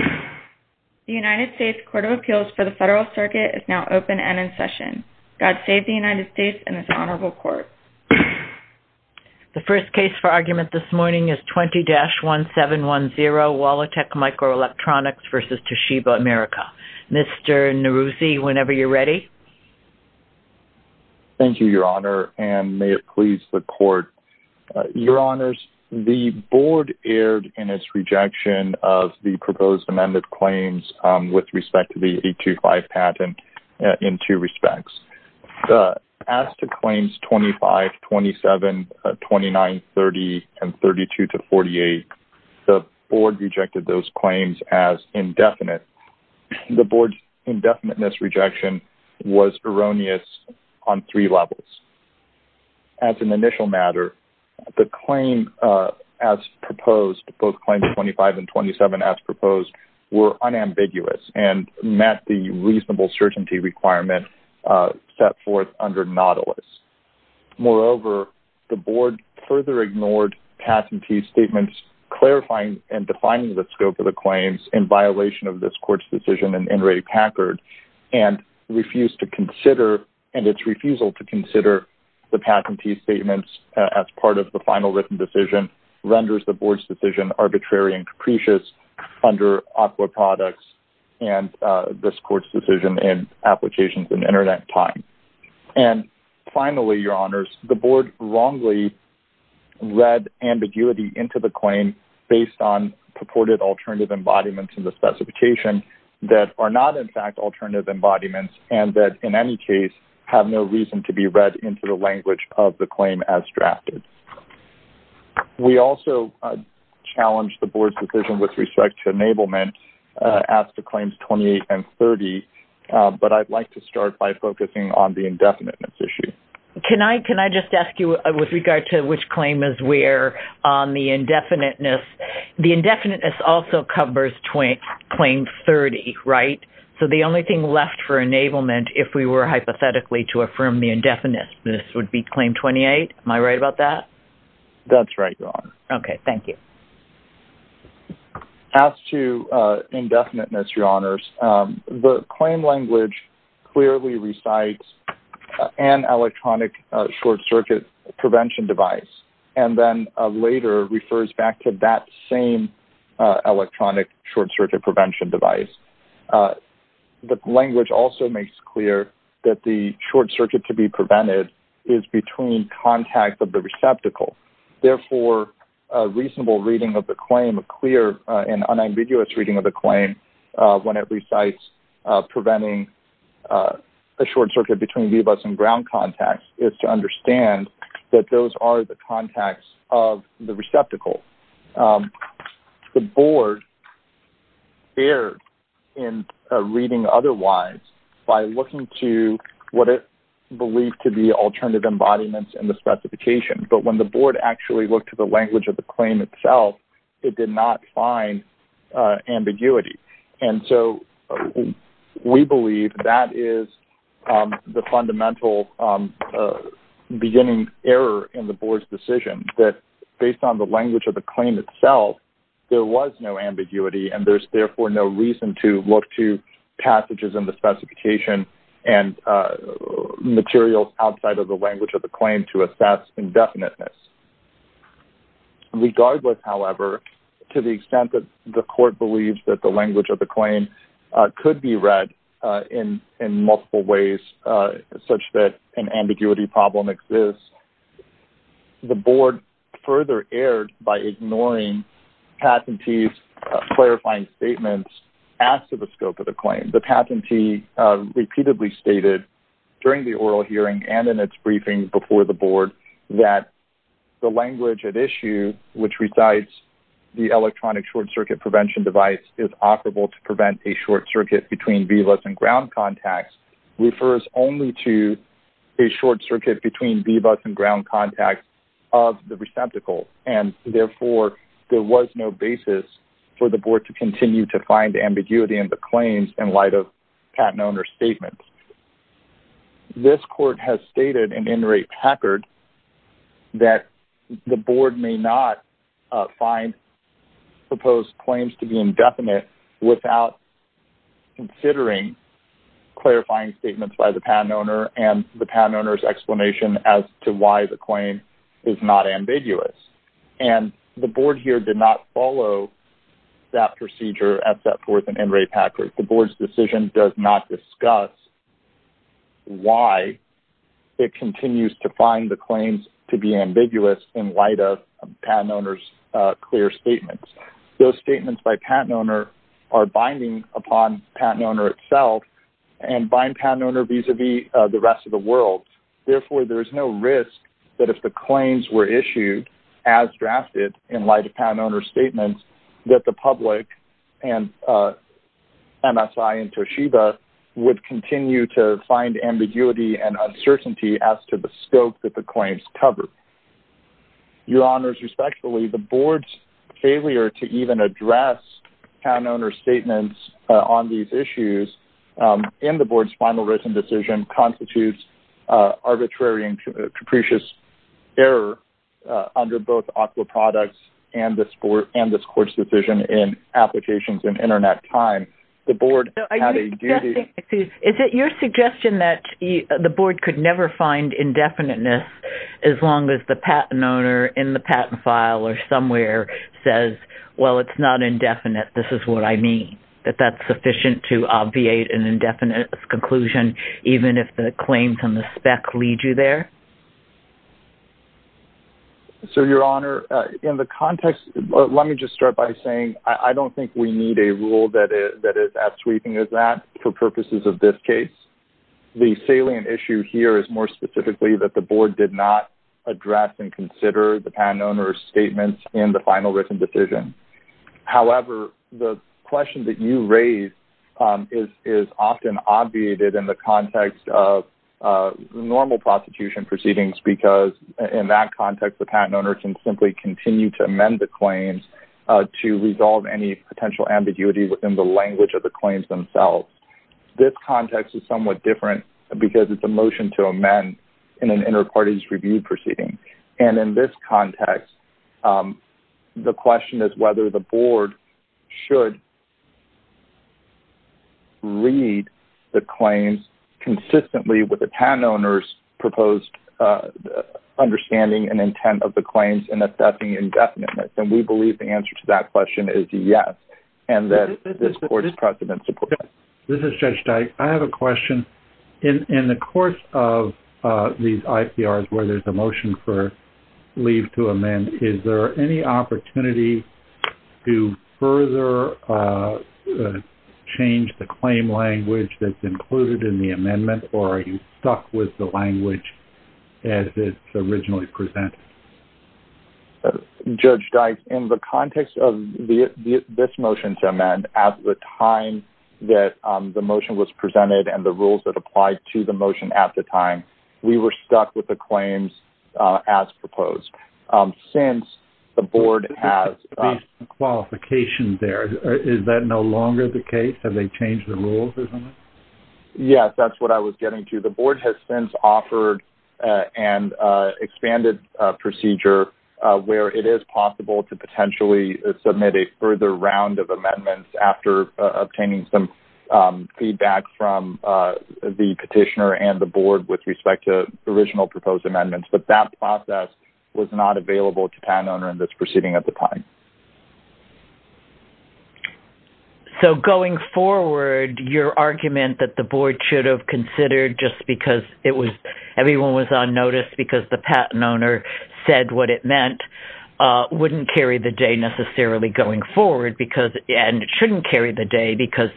The United States Court of Appeals for the Federal Circuit is now open and in session. God save the United States and this honorable court. The first case for argument this morning is 20-1710 Walletex Microelectronics v. Toshiba America. Mr. Neruzzi, whenever you're ready. Thank you, Your Honor, and may it please the court. Your Honors, the board erred in its rejection of the proposed amended claims with respect to the 825 patent in two respects. As to claims 25, 27, 29, 30, and 32-48, the board rejected those claims as indefinite. The board's indefiniteness rejection was erroneous on three levels. As an initial matter, the claim as proposed, both claims 25 and 27 as proposed, were unambiguous and met the reasonable certainty requirement set forth under Nautilus. Moreover, the board further ignored patentee statements clarifying and defining the scope of the claims in violation of this court's decision in Ray Packard and refused to consider, and its refusal to consider, the patentee statements as part of the final written decision renders the board's decision arbitrary and capricious under Aqua Products and this court's decision in Applications and Internet Time. And finally, Your Honors, the board wrongly read ambiguity into the claim based on purported alternative embodiments in the specification that are not in fact alternative embodiments and that in any case have no reason to be read into the language of the claim as drafted. We also challenge the board's decision with respect to enablement as to claims 28 and 30, but I'd like to start by focusing on the indefiniteness issue. Can I just ask you with regard to which claim is where on the indefiniteness? The indefiniteness also covers claim 30, right? So the only thing left for enablement, if we were hypothetically to affirm the indefiniteness, would be claim 28. Am I right about that? That's right, Your Honor. Okay, thank you. As to indefiniteness, Your Honors, the claim language clearly recites an electronic short circuit prevention device and then later refers back to that same electronic short circuit prevention device. The language also makes clear that the short circuit to be prevented is between contacts of the receptacle. Therefore, a reasonable reading of the claim, a clear and unambiguous reading of the claim when it recites preventing a short circuit between VBUS and ground contacts is to understand that those are the contacts of the receptacle. The Board erred in reading otherwise by looking to what it believed to be alternative embodiments in the specification, but when the Board actually looked at the language of the claim itself, it did not find ambiguity. And so we believe that is the fundamental beginning error in the Board's decision, that based on the language of the claim itself, there was no ambiguity and there's therefore no reason to look to passages in the specification and materials outside of the language of the claim to assess indefiniteness. Regardless, however, to the extent that the Court believes that the language of the claim could be read in multiple ways such that an ambiguity problem exists, the Board further erred by ignoring Patentee's clarifying statements as to the scope of the claim. The Patentee repeatedly stated during the oral hearing and in its briefing before the Board that the language at issue, which recites the electronic short circuit prevention device is operable to prevent a short circuit between VBUS and ground contacts, refers only to a short circuit between VBUS and ground contacts of the receptacle. And therefore, there was no basis for the Board to continue to find ambiguity in the claims in light of Patent Owner's statements. This Court has stated in N. Ray Packard that the Board may not find proposed claims to be indefinite without considering clarifying statements by the Patent Owner and the Patent Owner's explanation as to why the claim is not ambiguous. And the Board here did not follow that procedure at Setforth and N. Ray Packard. The Board's decision does not discuss why it continues to find the claims to be ambiguous in light of Patent Owner's clear statements. Those statements by Patent Owner are binding upon Patent Owner itself and bind Patent Owner vis-a-vis the rest of the world. Therefore, there is no risk that if the claims were issued as drafted in light of Patent Owner's statements that the public and MSI and Toshiba would continue to find ambiguity and uncertainty as to the scope that the claims cover. Your Honors, respectfully, the Board's failure to even address Patent Owner's statements on these issues and the Board's final written decision constitutes arbitrary and capricious error under both AWQA products and this Court's decision in Applications and Internet Time. Is it your suggestion that the Board could never find indefiniteness as long as the Patent Owner in the patent file or somewhere says, well, it's not indefinite, this is what I mean, that that's sufficient to obviate an indefinite conclusion even if the claims on the spec lead you there? So, Your Honor, in the context, let me just start by saying I don't think we need a rule that is as sweeping as that for purposes of this case. The salient issue here is more specifically that the Board did not address and consider the Patent Owner's statements in the final written decision. However, the question that you raise is often obviated in the context of normal prostitution proceedings because in that context, the Patent Owner can simply continue to amend the claims to resolve any potential ambiguity within the language of the claims themselves. This context is somewhat different because it's a motion to amend in an inter-parties review proceeding. And in this context, the question is whether the Board should read the claims consistently with the Patent Owner's proposed understanding and intent of the claims and assessing indefiniteness. And we believe the answer to that question is yes and that this Court's precedent supports that. This is Judge Dyke. I have a question. In the course of these IPRs where there's a motion for leave to amend, is there any opportunity to further change the claim language that's included in the amendment or are you stuck with the language as it's originally presented? Judge Dyke, in the context of this motion to amend, at the time that the motion was presented and the rules that applied to the motion at the time, we were stuck with the claims as proposed. Since the Board has... Based on the qualifications there, is that no longer the case? Have they changed the rules or something? Yes, that's what I was getting to. The Board has since offered an expanded procedure where it is possible to potentially submit a further round of amendments after obtaining some feedback from the petitioner and the Board with respect to original proposed amendments. But that process was not available to Patent Owner in this proceeding at the time. So going forward, your argument that the Board should have considered just because everyone was on notice because the Patent Owner said what it meant wouldn't carry the day necessarily going forward and shouldn't carry the day because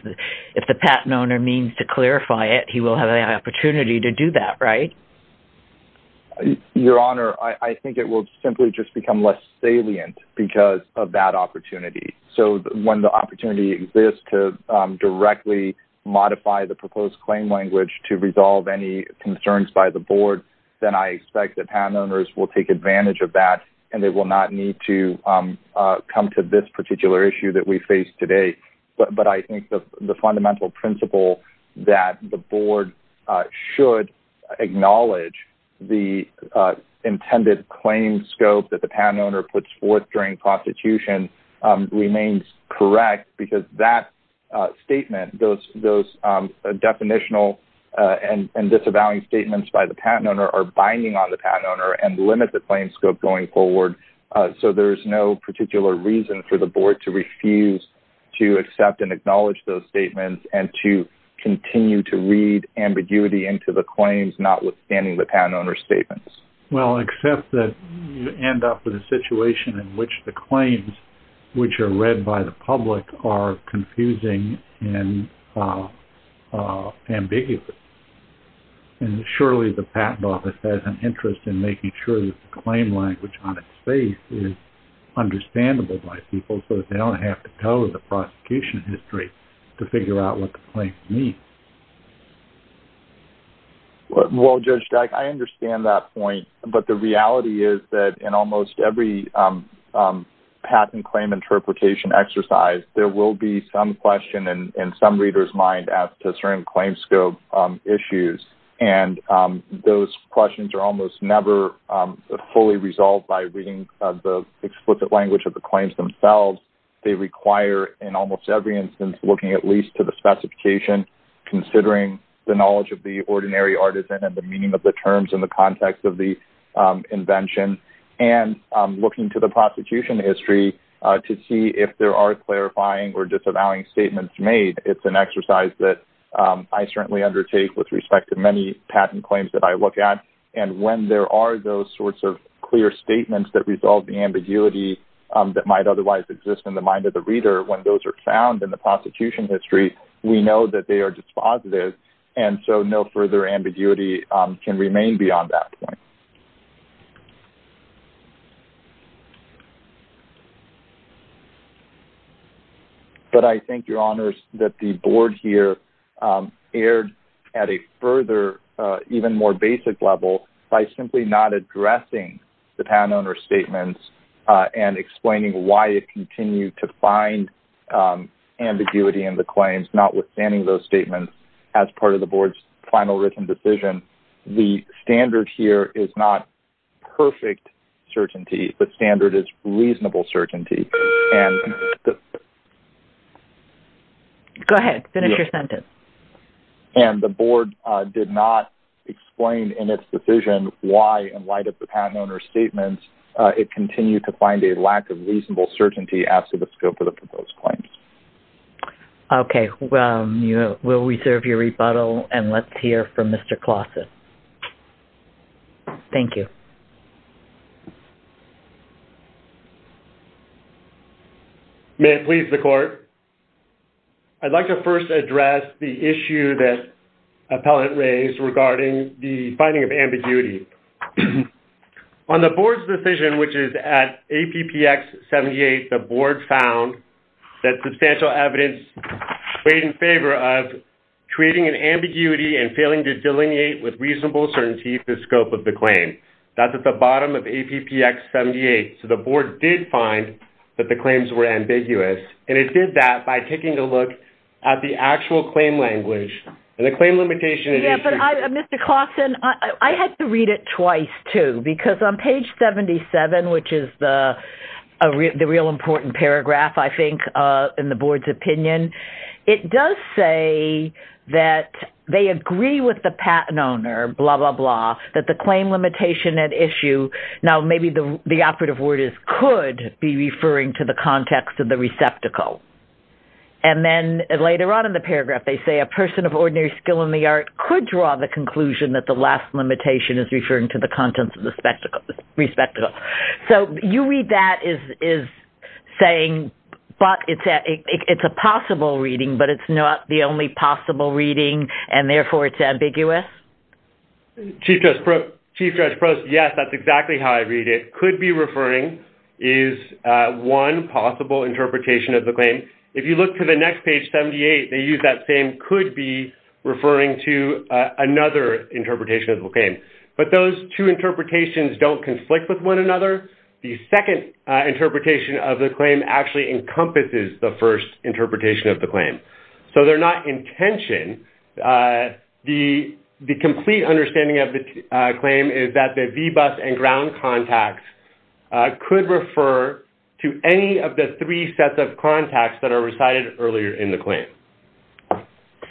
if the Patent Owner means to clarify it, he will have an opportunity to do that, right? Your Honor, I think it will simply just become less salient because of that opportunity. So when the opportunity exists to directly modify the proposed claim language to resolve any concerns by the Board, then I expect that Patent Owners will take advantage of that and they will not need to come to this particular issue that we face today. But I think the fundamental principle that the Board should acknowledge the intended claim scope that the Patent Owner puts forth during prostitution remains correct because that statement, those definitional and disavowing statements by the Patent Owner are binding on the Patent Owner and limit the claim scope going forward. So there's no particular reason for the Board to refuse to accept and acknowledge those statements and to continue to read ambiguity into the claims notwithstanding the Patent Owner's statements. Well, except that you end up with a situation in which the claims which are read by the public are confusing and ambiguous. And surely the Patent Office has an interest in making sure that the claim language on its face is understandable by people so that they don't have to go to the prosecution history to figure out what the claims mean. Well, Judge Stack, I understand that point. But the reality is that in almost every patent claim interpretation exercise, there will be some question in some reader's mind as to certain claim scope issues. And those questions are almost never fully resolved by reading the explicit language of the claims themselves. They require in almost every instance looking at least to the specification, considering the knowledge of the ordinary artisan and the meaning of the terms in the context of the invention, and looking to the prosecution history to see if there are clarifying or disavowing statements made. It's an exercise that I certainly undertake with respect to many patent claims that I look at. And when there are those sorts of clear statements that resolve the ambiguity that might otherwise exist in the mind of the reader, when those are found in the prosecution history, we know that they are dispositive. And so no further ambiguity can remain beyond that point. But I think, Your Honors, that the board here erred at a further, even more basic level by simply not addressing the patent owner's statements and explaining why it continued to find ambiguity in the claims, not withstanding those statements as part of the board's final written decision. The standard here is not perfect certainty. The standard is reasonable certainty. Go ahead. Finish your sentence. And the board did not explain in its decision why, in light of the patent owner's statements, it continued to find a lack of reasonable certainty as to the scope of the proposed claims. Okay. We'll reserve your rebuttal and let's hear from Mr. Clausen. Thank you. May it please the court. I'd like to first address the issue that appellant raised regarding the finding of ambiguity. On the board's decision, which is at APPX 78, the board found that substantial evidence weighed in favor of creating an ambiguity and failing to delineate with reasonable certainty the scope of the claim. That's at the bottom of APPX 78. So the board did find that the claims were ambiguous. And it did that by taking a look at the actual claim language. Mr. Clausen, I had to read it twice, too, because on page 77, which is the real important paragraph, I think, in the board's opinion, it does say that they agree with the patent owner, blah, blah, blah, that the claim limitation at issue. Now, maybe the operative word is could be referring to the context of the receptacle. And then later on in the paragraph, they say a person of ordinary skill in the art could draw the conclusion that the last limitation is referring to the contents of the receptacle. So you read that as saying it's a possible reading, but it's not the only possible reading, and therefore it's ambiguous? Chief Judge Prost, yes, that's exactly how I read it. The term could be referring is one possible interpretation of the claim. If you look to the next page, 78, they use that same could be referring to another interpretation of the claim. But those two interpretations don't conflict with one another. The second interpretation of the claim actually encompasses the first interpretation of the claim. So they're not in tension. The complete understanding of the claim is that the VBUS and ground contacts could refer to any of the three sets of contacts that are recited earlier in the claim.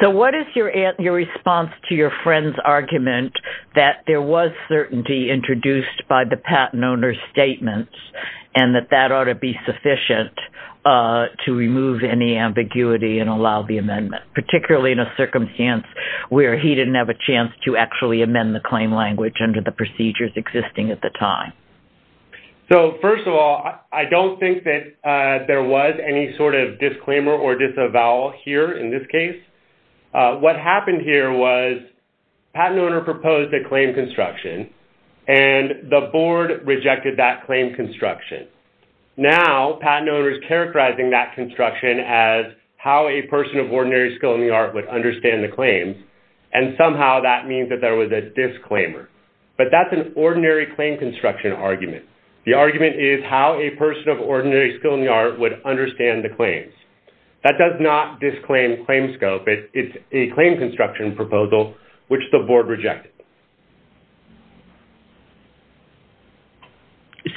So what is your response to your friend's argument that there was certainty introduced by the patent owner's statements and that that ought to be sufficient to remove any ambiguity and allow the amendment, particularly in a circumstance where he didn't have a chance to actually amend the claim language under the procedures existing at the time? So first of all, I don't think that there was any sort of disclaimer or disavowal here in this case. What happened here was the patent owner proposed a claim construction, and the board rejected that claim construction. Now the patent owner is characterizing that construction as how a person of ordinary skill in the art would understand the claim, and somehow that means that there was a disclaimer. But that's an ordinary claim construction argument. The argument is how a person of ordinary skill in the art would understand the claims. That does not disclaim claim scope. It's a claim construction proposal, which the board rejected.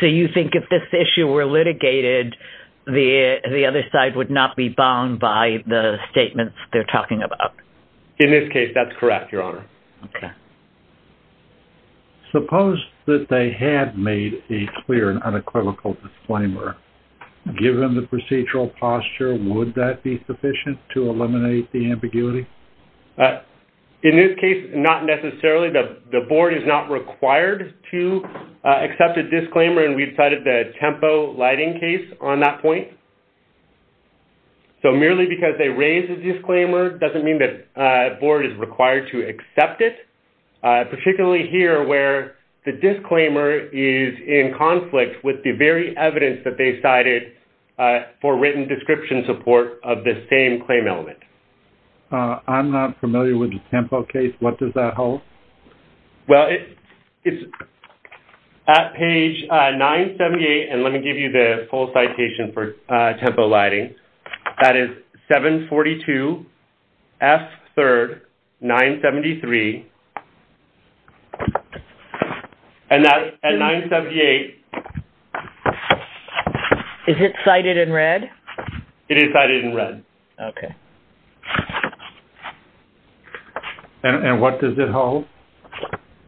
So you think if this issue were litigated, the other side would not be bound by the statements they're talking about? In this case, that's correct, Your Honor. Okay. Suppose that they had made a clear and unequivocal disclaimer. Given the procedural posture, would that be sufficient to eliminate the ambiguity? In this case, not necessarily. The board is not required to accept a disclaimer, and we've cited the Tempo Lighting case on that point. So merely because they raised a disclaimer doesn't mean that the board is required to accept it, particularly here where the disclaimer is in conflict with the very evidence that they cited for written description support of the same claim element. I'm not familiar with the Tempo case. What does that hold? Well, it's at page 978, and let me give you the full citation for Tempo Lighting. That is 742F3rd973. And that's at 978. Is it cited in red? It is cited in red. Okay. And what does it hold?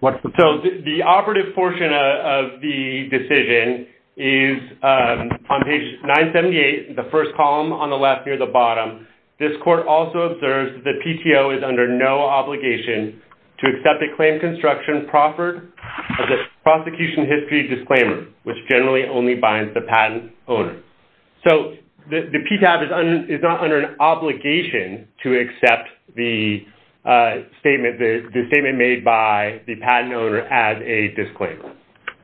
So the operative portion of the decision is on page 978, the first column on the left near the bottom. This court also observes that the PTO is under no obligation to accept a claim construction proffered as a prosecution history disclaimer, which generally only binds the patent owner. So the PTO is not under an obligation to accept the statement made by the patent owner as a disclaimer?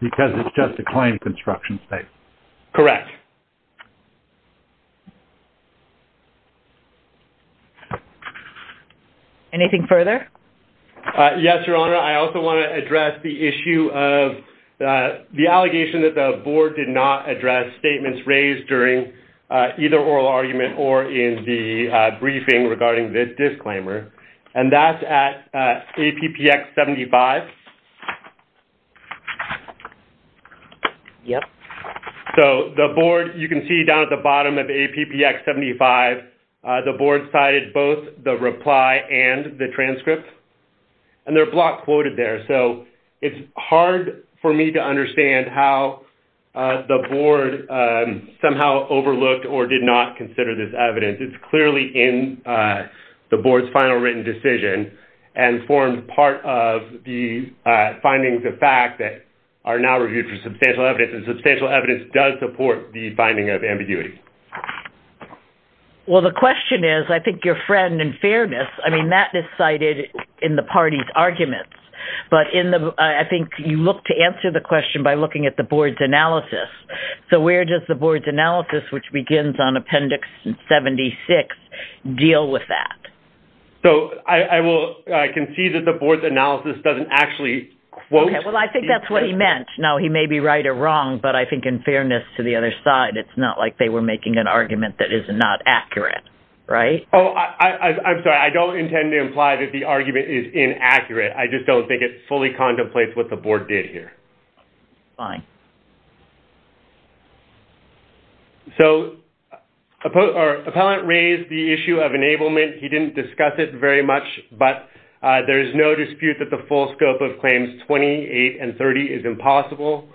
Because it's just a claim construction statement. Correct. Anything further? Yes, Your Honor. I also want to address the issue of the allegation that the board did not address statements raised during either oral argument or in the briefing regarding this disclaimer. And that's at APPX 75. Yep. So the board, you can see down at the bottom of APPX 75, the board cited both the reply and the transcript. And they're block quoted there. So it's hard for me to understand how the board somehow overlooked or did not consider this evidence. It's clearly in the board's final written decision and formed part of the findings of fact that are now reviewed for substantial evidence. And substantial evidence does support the finding of ambiguity. Well, the question is, I think, Your Friend, in fairness, I mean, that is cited in the party's arguments. But I think you look to answer the question by looking at the board's analysis. So where does the board's analysis, which begins on APPX 76, deal with that? So I can see that the board's analysis doesn't actually quote. Okay. Well, I think that's what he meant. Now, he may be right or wrong. But I think in fairness to the other side, it's not like they were making an argument that is not accurate. Right? Oh, I'm sorry. I don't intend to imply that the argument is inaccurate. I just don't think it fully contemplates what the board did here. Fine. So Appellant raised the issue of enablement. He didn't discuss it very much. But there is no dispute that the full scope of claims 28 and 30 is impossible.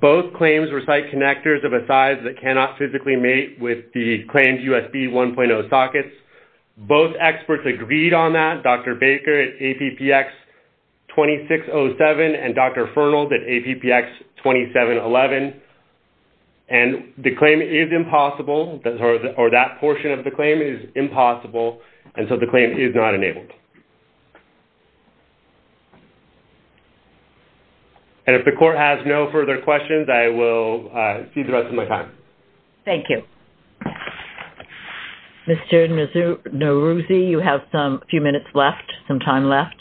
Both claims recite connectors of a size that cannot physically mate with the claimed USB 1.0 sockets. Both experts agreed on that, Dr. Baker at APPX 2607 and Dr. Fernald at APPX 2711. And the claim is impossible, or that portion of the claim is impossible. And so the claim is not enabled. And if the court has no further questions, I will cede the rest of my time. Thank you. Mr. Neruzzi, you have a few minutes left, some time left.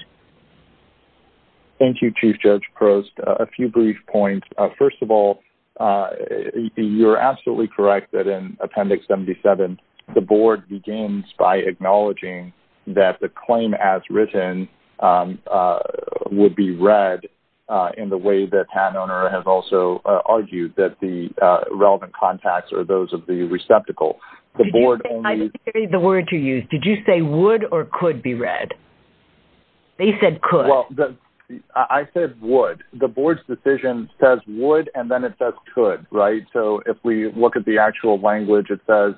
Thank you, Chief Judge Prost. A few brief points. First of all, you're absolutely correct that in Appendix 77, the board begins by acknowledging that the claim as written would be read in the way that Pat Oner has also argued that the relevant contacts are those of the receptacle. I didn't hear the word you used. Did you say would or could be read? They said could. Well, I said would. The board's decision says would, and then it says could, right? So if we look at the actual language, it says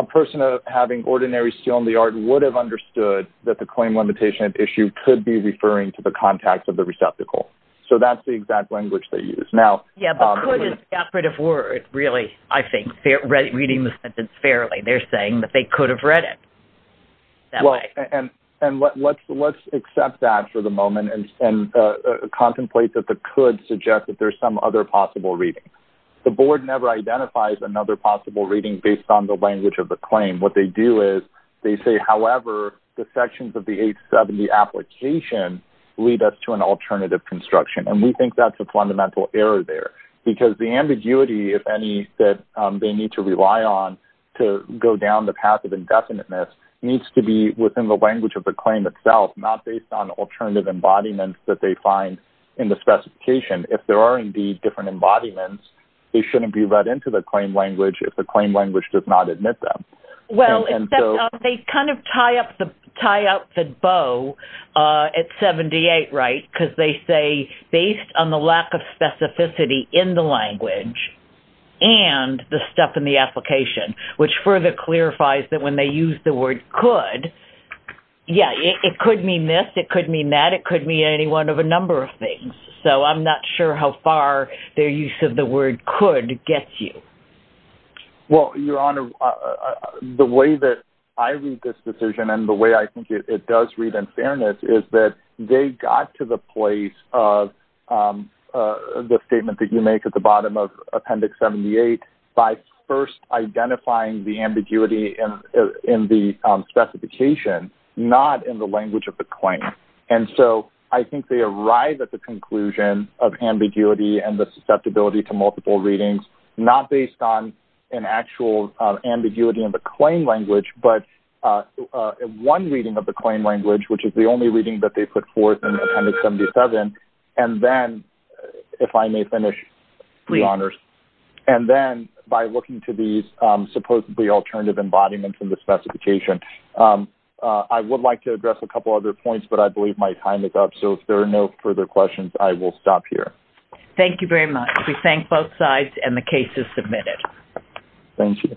a person having ordinary skill in the art would have understood that the claim limitation issue could be referring to the contacts of the receptacle. So that's the exact language they used. Yeah, but could is the operative word, really, I think, reading the sentence fairly. They're saying that they could have read it that way. And let's accept that for the moment and contemplate that the could suggests that there's some other possible reading. The board never identifies another possible reading based on the language of the claim. What they do is they say, however, the sections of the 870 application lead us to an alternative construction. And we think that's a fundamental error there because the ambiguity, if any, that they need to rely on to go down the path of indefiniteness needs to be within the language of the claim itself, not based on alternative embodiments that they find in the specification. If there are, indeed, different embodiments, they shouldn't be read into the claim language if the claim language does not admit them. Well, they kind of tie up the bow at 78, right, because they say based on the lack of specificity in the language and the stuff in the application, which further clarifies that when they use the word could, yeah, it could mean this, it could mean that, it could mean any one of a number of things. So I'm not sure how far their use of the word could get you. Well, Your Honor, the way that I read this decision and the way I think it does read in fairness is that they got to the place of the statement that you make at the bottom of Appendix 78 by first identifying the ambiguity in the specification, not in the language of the claim. And so I think they arrive at the conclusion of ambiguity and the susceptibility to multiple readings, not based on an actual ambiguity in the claim language, but one reading of the claim language, which is the only reading that they put forth in Appendix 77, and then, if I may finish, Your Honors, and then by looking to these supposedly alternative embodiments in the specification. I would like to address a couple other points, but I believe my time is up. So if there are no further questions, I will stop here. Thank you very much. We thank both sides, and the case is submitted. Thank you.